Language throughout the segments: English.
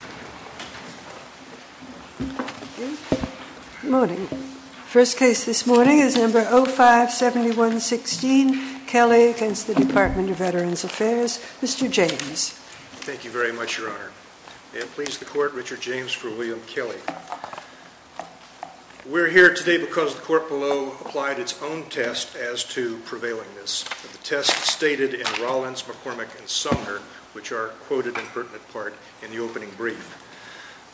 Good morning. The first case this morning is No. 057116, Kelly v. Department of Veterans Affairs. Mr. James. Thank you very much, Your Honor. May it please the Court, Richard James for William Kelly. We're here today because the Court below applied its own test as to prevailingness. The test stated in Rollins, McCormick, and Sumner, which are quoted in pertinent part in the opening brief.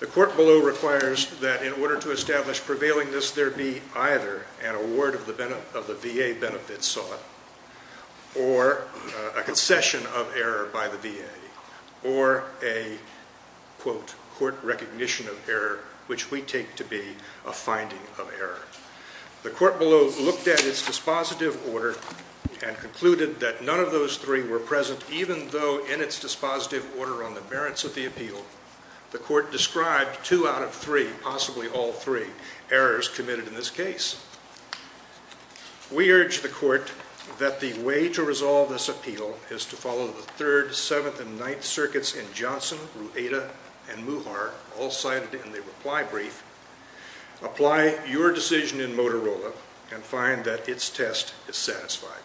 The Court below requires that in order to establish prevailingness, there be either an award of the VA benefits sought or a concession of error by the VA or a, quote, court recognition of error, which we take to be a finding of error. The Court below looked at its dispositive order and concluded that none of those three were present, even though in its dispositive order on the merits of the appeal, the Court described two out of three, possibly all three, errors committed in this case. We urge the Court that the way to resolve this appeal is to follow the third, seventh, and ninth circuits in Johnson, Rueda, and Muhar, all cited in the reply brief, apply your decision in Motorola, and find that its test is satisfied.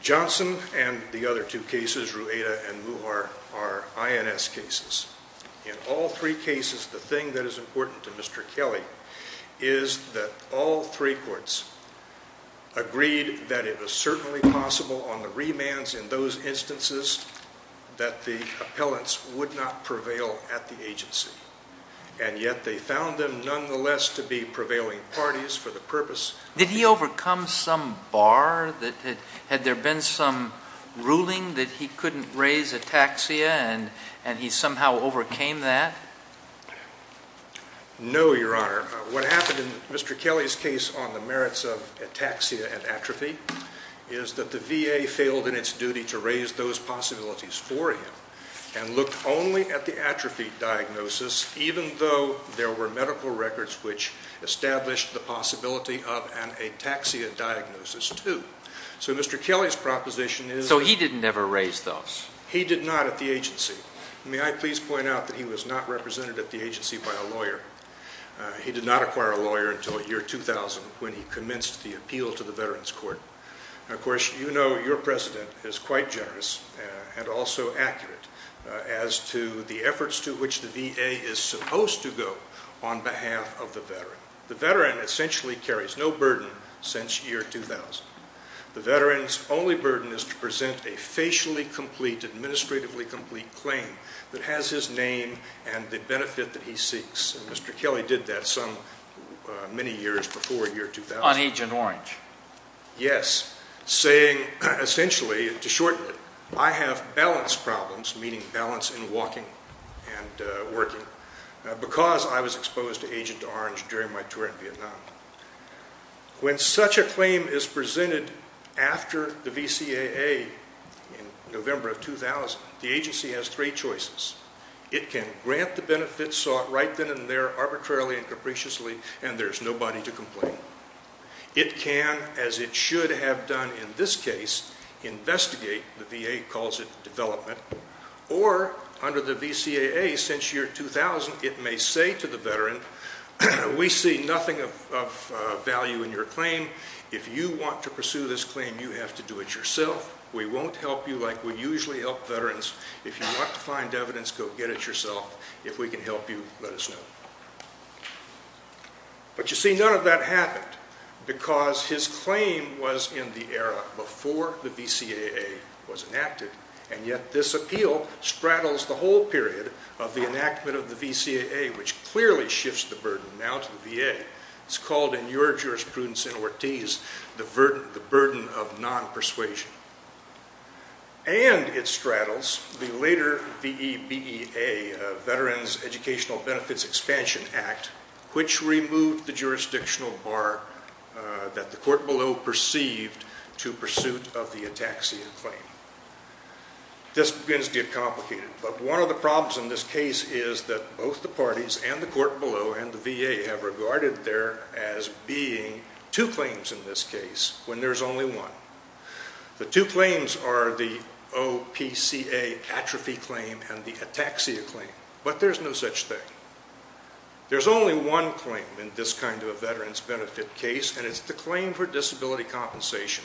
Johnson and the other two cases, Rueda and Muhar, are INS cases. In all three cases, the thing that is important to Mr. Kelly is that all three courts agreed that it was certainly possible on the remands in those instances that the appellants would not prevail at the agency, and yet they found them, nonetheless, to be prevailing parties for the purpose of the appeal. Did he overcome some bar? Had there been some ruling that he couldn't raise ataxia and he somehow overcame that? No, Your Honor. What happened in Mr. Kelly's case on the merits of ataxia and atrophy is that the VA failed in its duty to raise those possibilities for him and looked only at the medical records which established the possibility of an ataxia diagnosis, too. So Mr. Kelly's proposition is... So he didn't ever raise those? He did not at the agency. May I please point out that he was not represented at the agency by a lawyer. He did not acquire a lawyer until the year 2000 when he commenced the appeal to the Veterans Court. Of course, you know your President is quite generous and also accurate as to the efforts to which the VA is supposed to go on behalf of the Veteran. The Veteran essentially carries no burden since year 2000. The Veteran's only burden is to present a facially complete, administratively complete claim that has his name and the benefit that he seeks. Mr. Kelly did that some many years before year 2000. On Agent Orange. Yes, saying essentially, to shorten it, I have balance problems, meaning balance in walking and working, because I was exposed to Agent Orange during my tour in Vietnam. When such a claim is presented after the VCAA in November of 2000, the agency has three choices. It can grant the benefits sought right then and there, arbitrarily and capriciously, and there's nobody to complain. It can, as it should have done in this case, investigate, the VA calls it development, or under the VCAA since year 2000, it may say to the Veteran, we see nothing of value in your claim. If you want to pursue this claim, you have to do it yourself. We won't help you like we usually help Veterans. If you want to find evidence, go get it yourself. If we can help you, let us know. But you see, none of that happened, because his claim was in the era before the VCAA was enacted, and yet this appeal straddles the whole period of the enactment of the VCAA, which clearly shifts the burden now to the VA. It's called in your jurisprudence in Ortiz, the burden of non-persuasion. And it straddles the later VEBEA, Veteran's Appeal, which is the Veterans Educational Benefits Expansion Act, which removed the jurisdictional bar that the court below perceived to pursuit of the ataxia claim. This begins to get complicated, but one of the problems in this case is that both the parties and the court below and the VA have regarded there as being two claims in this case, when there's only one. The two claims are the OPCA atrophy claim and the ataxia claim, but there's no such thing. There's only one claim in this kind of a veterans' benefit case, and it's the claim for disability compensation.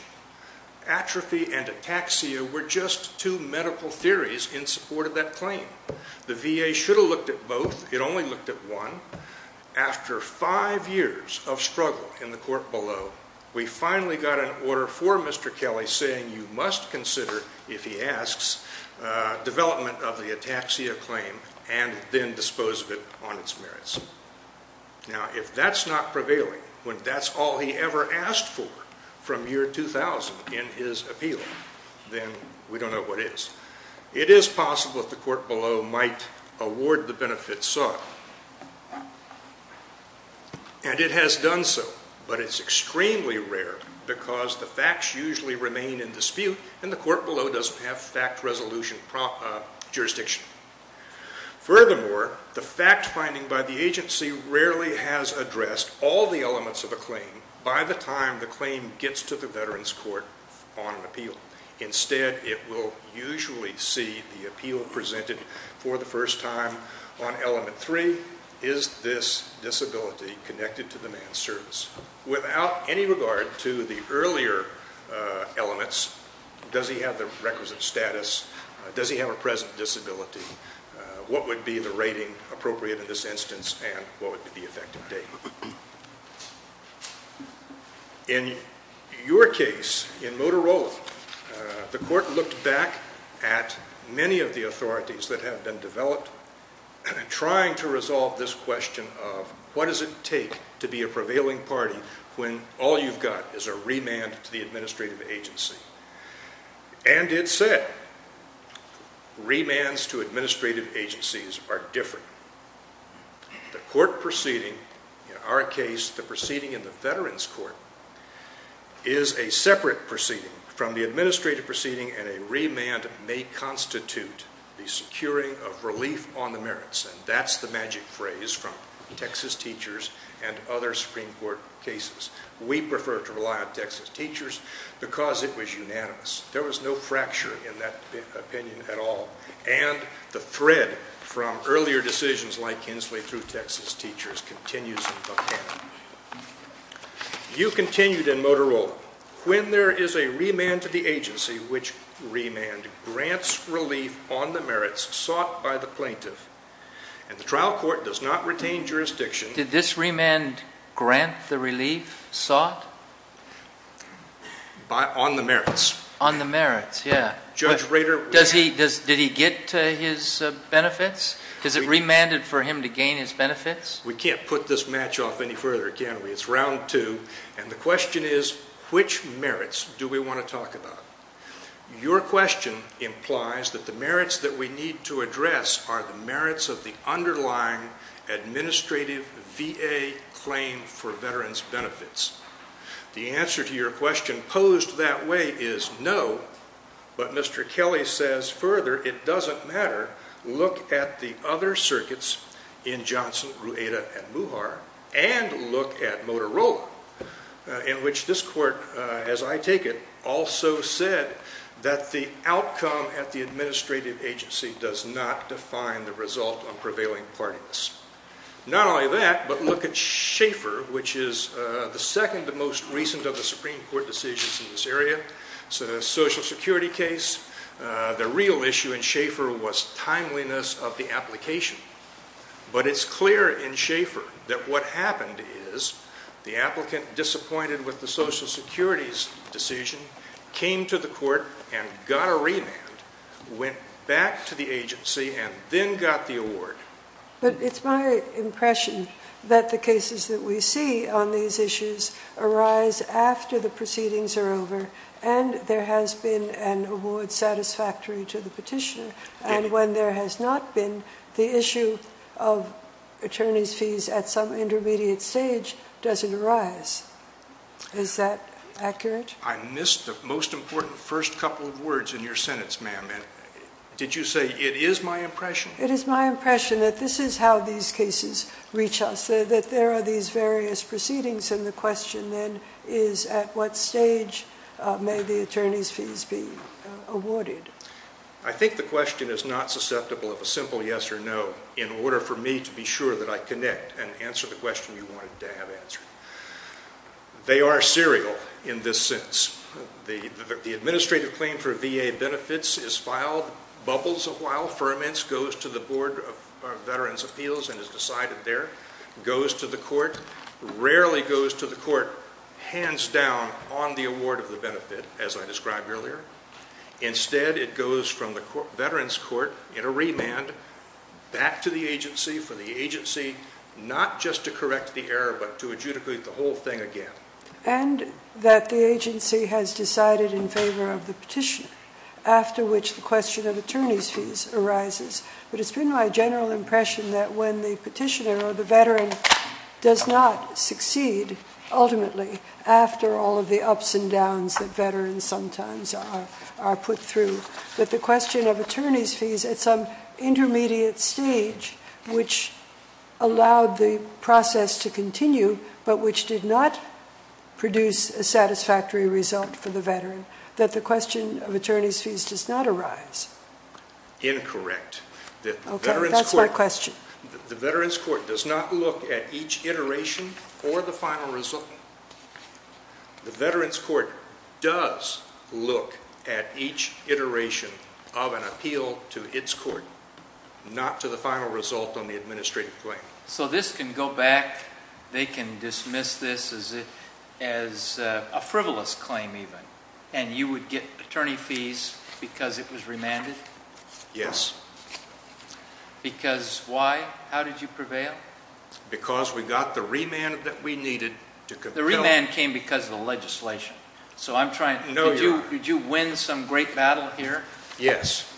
Atrophy and ataxia were just two medical theories in support of that claim. The VA should have looked at both. It only looked at one. After five years of struggle in the court below, we finally got an order for Mr. Kelly saying you must consider, if he asks, development of the ataxia claim and then dispose of it on its merits. Now, if that's not prevailing, when that's all he ever asked for from year 2000 in his appeal, then we don't know what is. It is possible that the court below might award the benefit sought, and it has done so, but it's extremely rare because the facts usually remain in dispute and the court below doesn't have fact resolution jurisdiction. Furthermore, the fact finding by the agency rarely has addressed all the elements of a claim by the time the claim gets to the veterans' court on appeal. Instead, it will usually see the appeal presented for the first time on element three, is this disability connected to the man's service? Without any regard to the earlier elements, does he have the requisite status? Does he have a present disability? What would be the rating appropriate in this instance and what would be the effective date? In your case, in Motorola, the court looked back at many of the authorities that have been developed, trying to resolve this issue. What does it take to be a prevailing party when all you've got is a remand to the administrative agency? And it said, remands to administrative agencies are different. The court proceeding, in our case, the proceeding in the veterans' court is a separate proceeding from the administrative proceeding and a remand may constitute the securing of relief on the merits sought by the plaintiff. And the trial court does not retain jurisdiction. Did this remand grant the relief sought? On the merits. On the merits, yeah. Judge Rader... Did he get his benefits? Is it remanded for him to gain his benefits? We can't put this match off any further, can we? It's round two and the question is, which merits do we want to talk about? Your question implies that the merits that we need to address are the merits of the underlying administrative VA claim for veterans' benefits. The answer to your question posed that way is no, but Mr. Kelly says further, it doesn't matter. Look at the other circuits in Johnson, Rueda, and Muhar, and look at Motorola, in which this court, as I take it, also said that the outcome at the administrative agency does not define the result on prevailing parties. Not only that, but look at Schaefer, which is the second to most recent of the Supreme Court decisions in this area. It's a Social Security case. The real issue in Schaefer was timeliness of the application. But it's clear in Schaefer that what happened is the applicant, disappointed with the Social Security's decision, came to the court and got a remand, went back to the agency, and then got the award. But it's my impression that the cases that we see on these issues arise after the proceedings are over and there has been an award satisfactory to the petitioner, and when there has not been, the issue of attorney's fees at some intermediate stage doesn't arise. Is that accurate? I missed the most important first couple of words in your sentence, ma'am. Did you say, it is my impression? It is my impression that this is how these cases reach us, that there are these various proceedings and the question then is at what stage may the attorney's fees be awarded? I think the question is not susceptible of a simple yes or no in order for me to be sure that I connect and answer the question you wanted to have answered. They are serial in this sense. The administrative claim for VA benefits is filed, bubbles a while, ferments, goes to the Board of Veterans' Appeals and is decided there, goes to the court, rarely goes to the court hands down on the award of the benefit as I described earlier. Instead it goes from the Veterans' Court in a remand back to the agency for the agency not just to correct the error but to adjudicate the whole thing again. And that the agency has decided in favor of the petitioner after which the question of attorney's fees arises. But it has been my general impression that when the petitioner or the veteran does not succeed ultimately after all of the ups and downs that veterans sometimes are put through, that the question of attorney's fees at some intermediate stage which allowed the process to continue but which did not produce a satisfactory result for the veteran, that the question of attorney's fees does not arise. Incorrect. Okay, that's my question. The Veterans' Court does not look at each iteration or the final result. The Veterans' Court does look at each iteration of an appeal to its court, not to the final result on the administrative claim. So this can go back, they can dismiss this as a frivolous claim even and you would get attorney fees because it was remanded? Yes. Because why? How did you prevail? The remand came because of the legislation. So I'm trying, did you win some great battle here? Yes.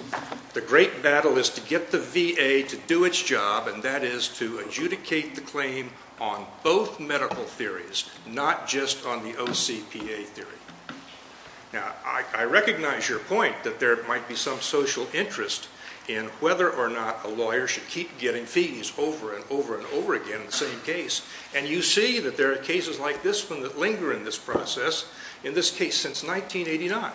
The great battle is to get the VA to do its job and that is to adjudicate the claim on both medical theories, not just on the OCPA theory. Now I recognize your point that there might be some social interest in whether or not a lawyer should keep getting fees over and over again in the same case. And you see that there are cases like this one that linger in this process, in this case since 1989.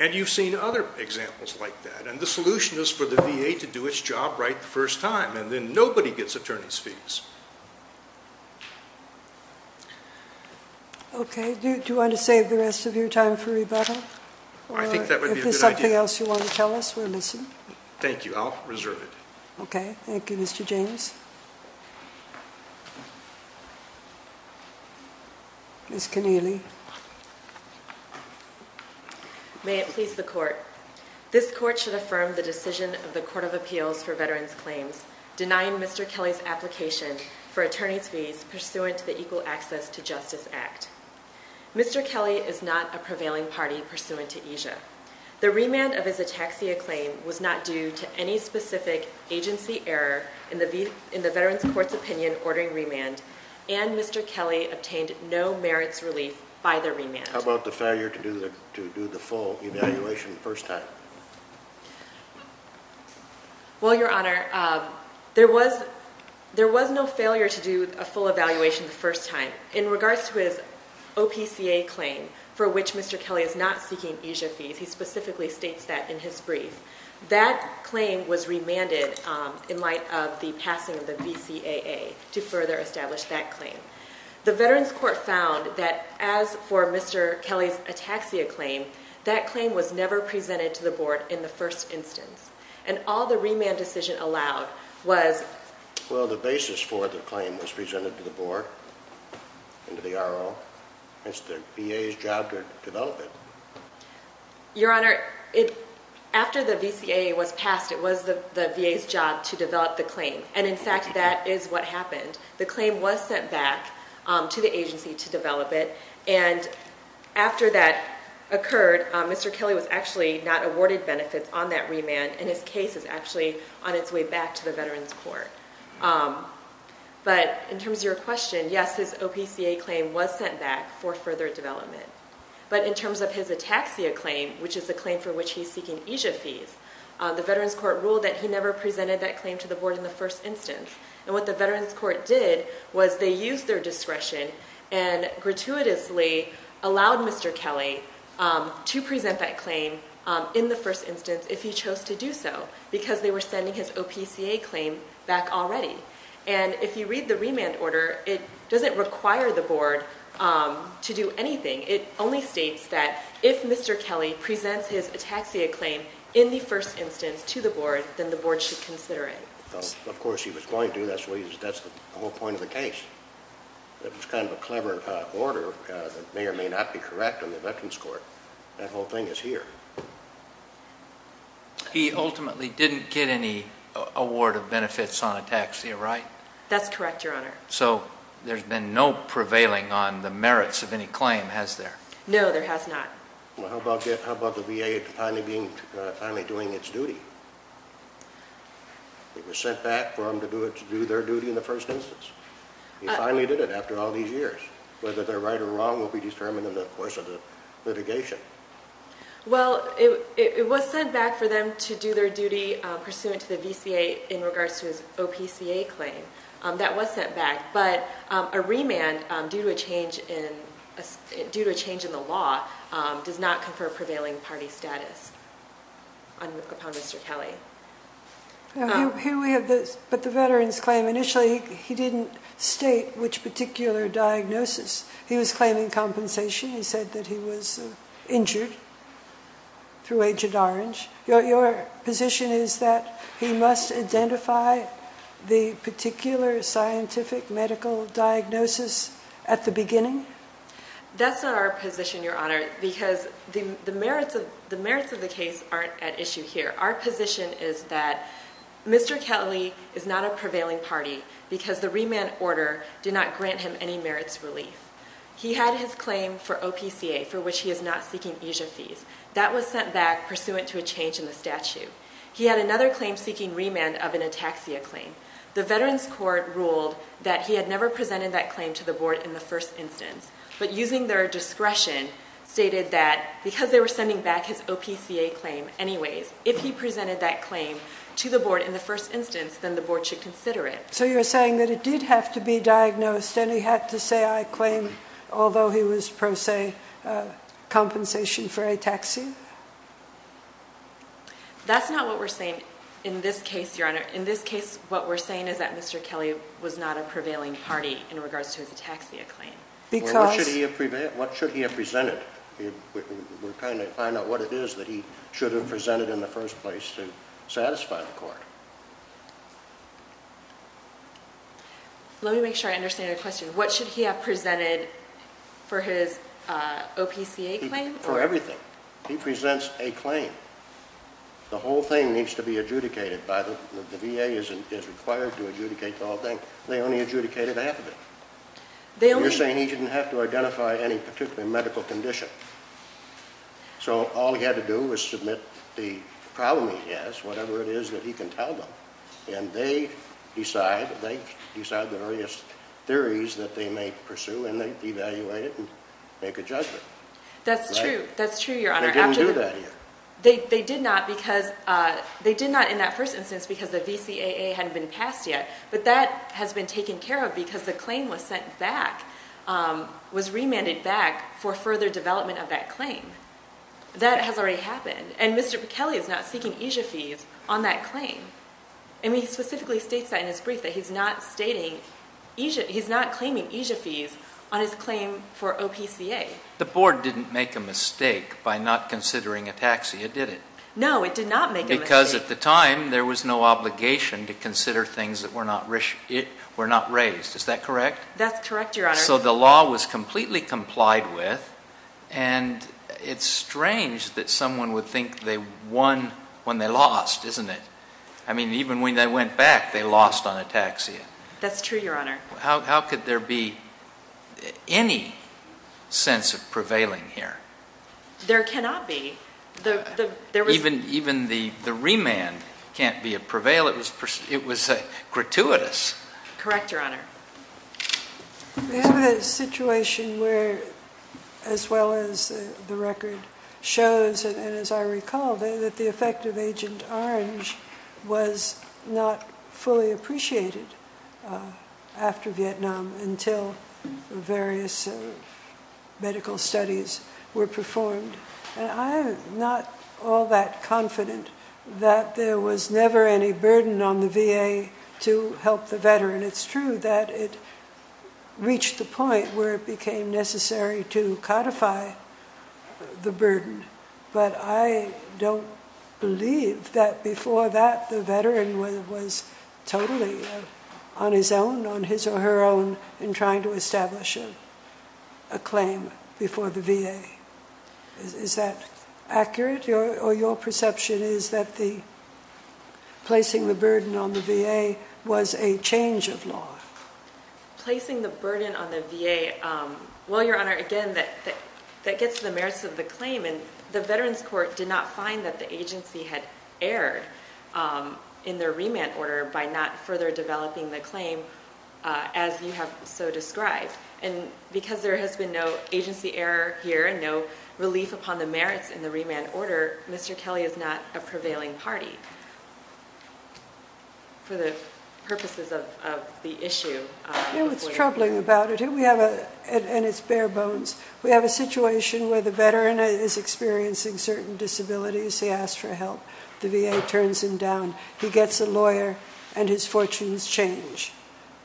And you've seen other examples like that. And the solution is for the VA to do its job right the first time and then nobody gets attorney's fees. Okay. Do you want to save the rest of your time for rebuttal? I think that would be a good idea. Is there something else you want to tell us? We're missing. Thank you. I'll reserve it. Okay. Thank you, Mr. James. Ms. Keneally. May it please the court. This court should affirm the decision of the Court of Appeals for Veterans Claims denying Mr. Kelly's application for attorney's fees pursuant to the Equal Access to Justice Act. Mr. Kelly is not a prevailing party pursuant to EJIA. The remand of his ataxia claim was not due to any specific agency error in the Veterans Court's opinion ordering remand. And Mr. Kelly obtained no merits relief by the remand. How about the failure to do the full evaluation the first time? Well, Your Honor, there was no failure to do a full evaluation the first time. In regards to his OPCA claim for which Mr. Kelly is not seeking EJIA fees, he specifically states that in his brief. That claim was remanded in light of the passing of the VCAA to further establish that claim. The Veterans Court found that as for Mr. Kelly's ataxia claim, that claim was never presented to the Board in the first instance. And all the remand decision allowed was... Well, the basis for the claim was presented to the Board and to the RO. It's the VA's job to develop it. Your Honor, after the VCAA was passed, it was the VA's job to develop the claim. And in fact, that is what happened. The claim was sent back to the agency to develop it. And after that occurred, Mr. Kelly was actually not awarded benefits on that remand and his case is actually on its way back to the Veterans Court. But in terms of your question, yes, his OPCA claim was sent back for further development. But in terms of his ataxia claim, which is the claim for which he's seeking EJIA fees, the Veterans Court ruled that he never presented that claim to the Board in the first instance. And what the Veterans Court did was they used their discretion and gratuitously allowed Mr. Kelly to present that claim in the first instance if he chose to do so because they were sending his OPCA claim back already. And if you read the remand order, it doesn't require the Board to do anything. It only states that if Mr. Kelly presents his ataxia claim in the first instance to the Board, then the Board should consider it. Of course, he was going to. That's the whole point of the case. It was kind of a clever order that may or may not be correct in the Veterans Court. That whole thing is here. He ultimately didn't get any award of benefits on ataxia, right? That's correct, Your Honor. So there's been no prevailing on the merits of any claim, has there? No, there has not. Well, how about the VA finally doing its duty? It was sent back for them to do their duty in the first instance. He finally did it after all these years. Whether they're right or wrong will be determined in the course of the litigation. Well, it was sent back for them to do their duty pursuant to the VCA in regards to his OPCA claim. That was sent back. But a remand due to a change in the law does not confer prevailing party status upon Mr. Kelly. But the veterans claim, initially he didn't state which particular diagnosis. He was claiming compensation. He said that he was injured through Agent Orange. Your position is that he must identify the particular scientific medical diagnosis at the beginning? That's not our position, Your Honor, because the merits of the case aren't at issue here. Our position is that Mr. Kelly is not a prevailing party because the remand order did not grant him any merits relief. He had his claim for OPCA for which he is not seeking EASA fees. That was sent back pursuant to a change in the statute. He had another claim seeking remand of an ataxia claim. The veterans court ruled that he had never presented that claim to the board in the first instance. But using their discretion, stated that because they were sending back his OPCA claim anyways, if he presented that claim to the board in the first instance, then the board should consider it. So you're saying that it did have to be diagnosed and he had to say, I claim, although he was pro se, compensation for ataxia? That's not what we're saying in this case, Your Honor. In this case, what we're saying is that Mr. Kelly was not a prevailing party in regards to his ataxia claim. What should he have presented? We're trying to find out what it is that he should have presented in the first place to satisfy the court. Let me make sure I understand your question. What should he have presented for his OPCA claim? For everything. He presents a claim. The whole thing needs to be adjudicated. The VA is required to adjudicate the whole thing. They only adjudicated half of it. You're saying he didn't have to identify any particular medical condition. So all he had to do was submit the problem he has, whatever it is that he can tell them. And they decide, they decide the various theories that they may pursue and they evaluate it and make a judgment. That's true, Your Honor. They didn't do that yet. They did not in that first instance because the VCAA hadn't been passed yet. But that has been taken care of because the claim was sent back, was remanded back for further development of that claim. That has already happened. And Mr. McKelley is not seeking EJIA fees on that claim. And he specifically states that in his brief, that he's not stating EJIA, he's not claiming EJIA fees on his claim for OPCA. The board didn't make a mistake by not considering ATAXIA, did it? No, it did not make a mistake. Because at the time there was no obligation to consider things that were not raised. Is that correct? That's correct, Your Honor. So the law was completely complied with. And it's strange that someone would think they won when they lost, isn't it? I mean, even when they went back, they lost on ATAXIA. That's true, Your Honor. How could there be any sense of prevailing here? There cannot be. Even the remand can't be a prevail. It was gratuitous. Correct, Your Honor. We have a situation where, as well as the record shows, and as I recall, that the effect of Agent Orange was not fully appreciated after Vietnam until various medical studies were performed. And I'm not all that confident that there was never any burden on the VA to help the veteran. It's true that it reached the point where it became necessary to codify the burden. But I don't believe that before that the veteran was totally on his own, on his or her own, in trying to establish a claim before the VA. Is that accurate? Or your perception is that placing the burden on the VA was a change of law? Placing the burden on the VA, well, Your Honor, again, that gets to the merits of the claim. And the Veterans Court did not find that the agency had erred in their remand order by not further developing the claim as you have so described. And because there has been no agency error here and no relief upon the merits in the remand order, Mr. Kelly is not a prevailing party for the purposes of the issue. You know what's troubling about it? And it's bare bones. We have a situation where the veteran is experiencing certain disabilities. He asks for help. The VA turns him down. He gets a lawyer, and his fortunes change.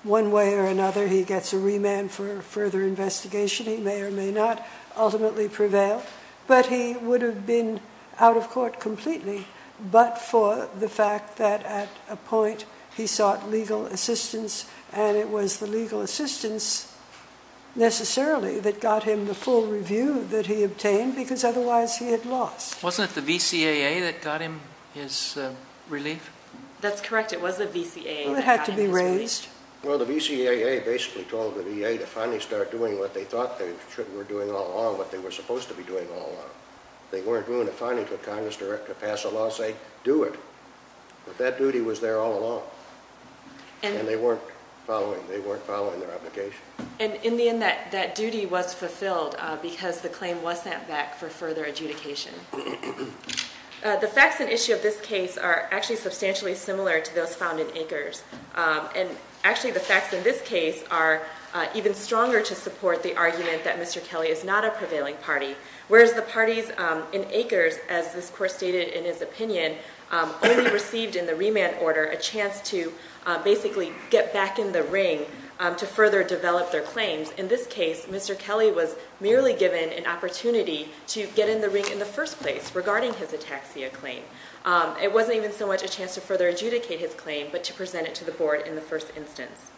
One way or another, he gets a remand for further investigation. He may or may not ultimately prevail. But he would have been out of court completely but for the fact that at a point he sought legal assistance, and it was the legal assistance necessarily that got him the full review that he obtained, because otherwise he had lost. Wasn't it the VCAA that got him his relief? That's correct. It was the VCAA that got him his relief. Well, the VCAA basically told the VA to finally start doing what they thought they were doing all along, what they were supposed to be doing all along. They weren't going to finally put Congress to pass a law saying, do it. But that duty was there all along, and they weren't following their obligation. And in the end, that duty was fulfilled because the claim was sent back for further adjudication. The facts and issue of this case are actually substantially similar to those found in Akers. And actually the facts in this case are even stronger to support the argument that Mr. Kelly is not a prevailing party, whereas the parties in Akers, as this Court stated in his opinion, only received in the remand order a chance to basically get back in the ring to further develop their claims. In this case, Mr. Kelly was merely given an opportunity to get in the ring in the first place regarding his ataxia claim. It wasn't even so much a chance to further adjudicate his claim, but to present it to the Board in the first instance.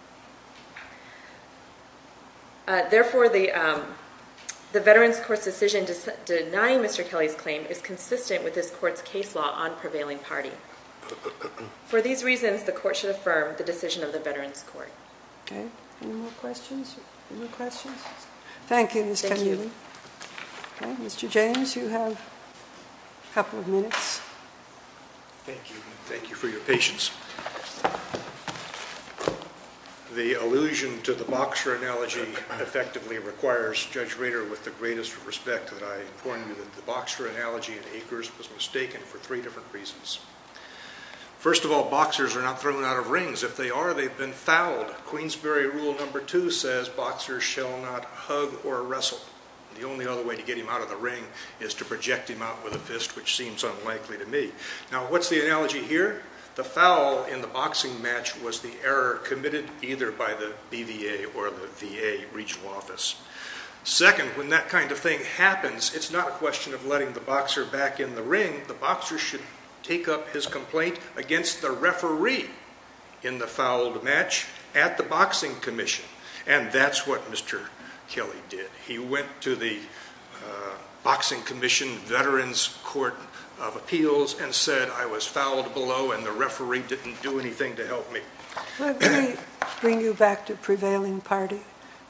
Therefore, the Veterans Court's decision denying Mr. Kelly's claim is consistent with this Court's case law on prevailing party. For these reasons, the Court should affirm the decision of the Veterans Court. Any more questions? Thank you, Ms. Connealy. Mr. James, you have a couple of minutes. Thank you. Thank you for your patience. The allusion to the boxer analogy effectively requires Judge Rader with the greatest respect that I inform you that the boxer analogy in Akers was mistaken for three different reasons. First of all, boxers are not thrown out of rings. If they are, they've been fouled. Queensbury Rule No. 2 says boxers shall not hug or wrestle. The only other way to get him out of the ring is to project him out with a fist, which seems unlikely to me. Now, what's the analogy here? The foul in the boxing match was the error committed either by the BVA or the VA regional office. Second, when that kind of thing happens, it's not a question of letting the boxer back in the ring. The boxer should take up his complaint against the referee in the fouled match at the Boxing Commission, and that's what Mr. Kelly did. He went to the Boxing Commission Veterans Court of Appeals and said, I was fouled below and the referee didn't do anything to help me. Let me bring you back to prevailing party.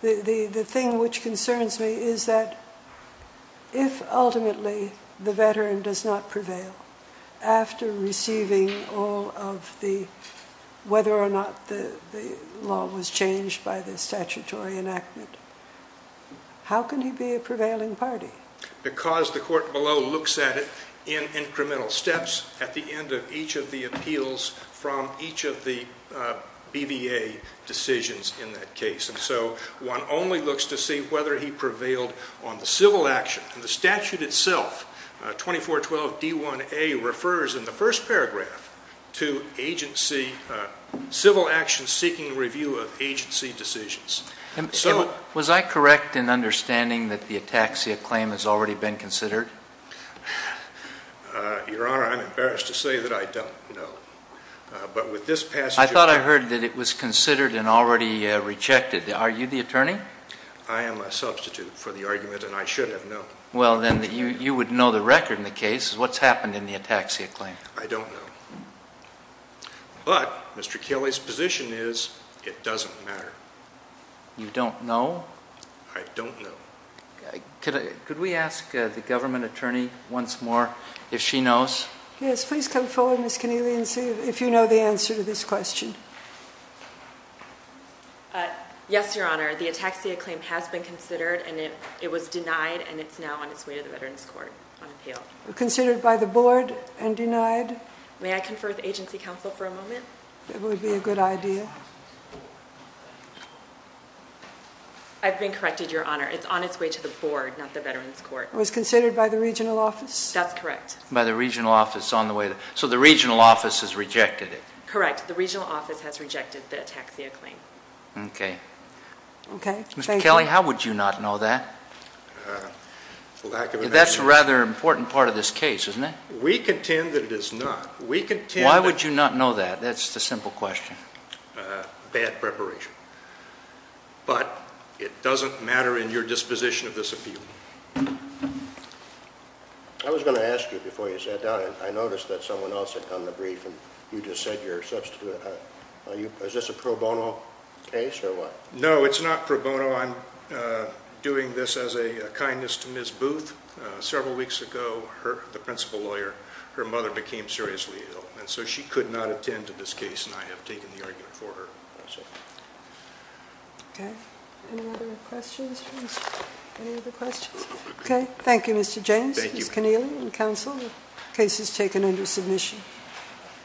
The thing which concerns me is that if ultimately the veteran does not prevail after receiving all of the whether or not the law was changed by the statutory enactment, how can he be a prevailing party? Because the court below looks at it in incremental steps at the end of each of the appeals from each of the BVA decisions in that case. And so one only looks to see whether he prevailed on the civil action. And the statute itself, 2412D1A, refers in the first paragraph to civil action seeking review of agency decisions. And was I correct in understanding that the ataxia claim has already been considered? Your Honor, I'm embarrassed to say that I don't know. I thought I heard that it was considered and already rejected. Are you the attorney? I am a substitute for the argument, and I should have known. Well, then you would know the record in the case. What's happened in the ataxia claim? I don't know. But Mr. Kelly's position is it doesn't matter. You don't know? I don't know. Could we ask the government attorney once more if she knows? Yes, please come forward, Ms. Keneally, and see if you know the answer to this question. Yes, Your Honor. The ataxia claim has been considered, and it was denied, and it's now on its way to the Veterans Court on appeal. Considered by the board and denied? May I confer with agency counsel for a moment? That would be a good idea. I've been corrected, Your Honor. It's on its way to the board, not the Veterans Court. It was considered by the regional office? That's correct. By the regional office on the way. So the regional office has rejected it? Correct. The regional office has rejected the ataxia claim. Okay. Okay. Thank you. Mr. Kelly, how would you not know that? Lack of information. That's a rather important part of this case, isn't it? We contend that it is not. Why would you not know that? That's the simple question. Bad preparation. But it doesn't matter in your disposition of this appeal. I was going to ask you before you sat down, and I noticed that someone else had come to brief, and you just said you're substituting. Is this a pro bono case or what? No, it's not pro bono. I'm doing this as a kindness to Ms. Booth. Several weeks ago, the principal lawyer, her mother became seriously ill, and so she could not attend to this case, and I have taken the argument for her. I see. Okay. Any other questions? Any other questions? Okay. Thank you, Mr. James. Thank you. Ms. Connealy and counsel. The case is taken under submission.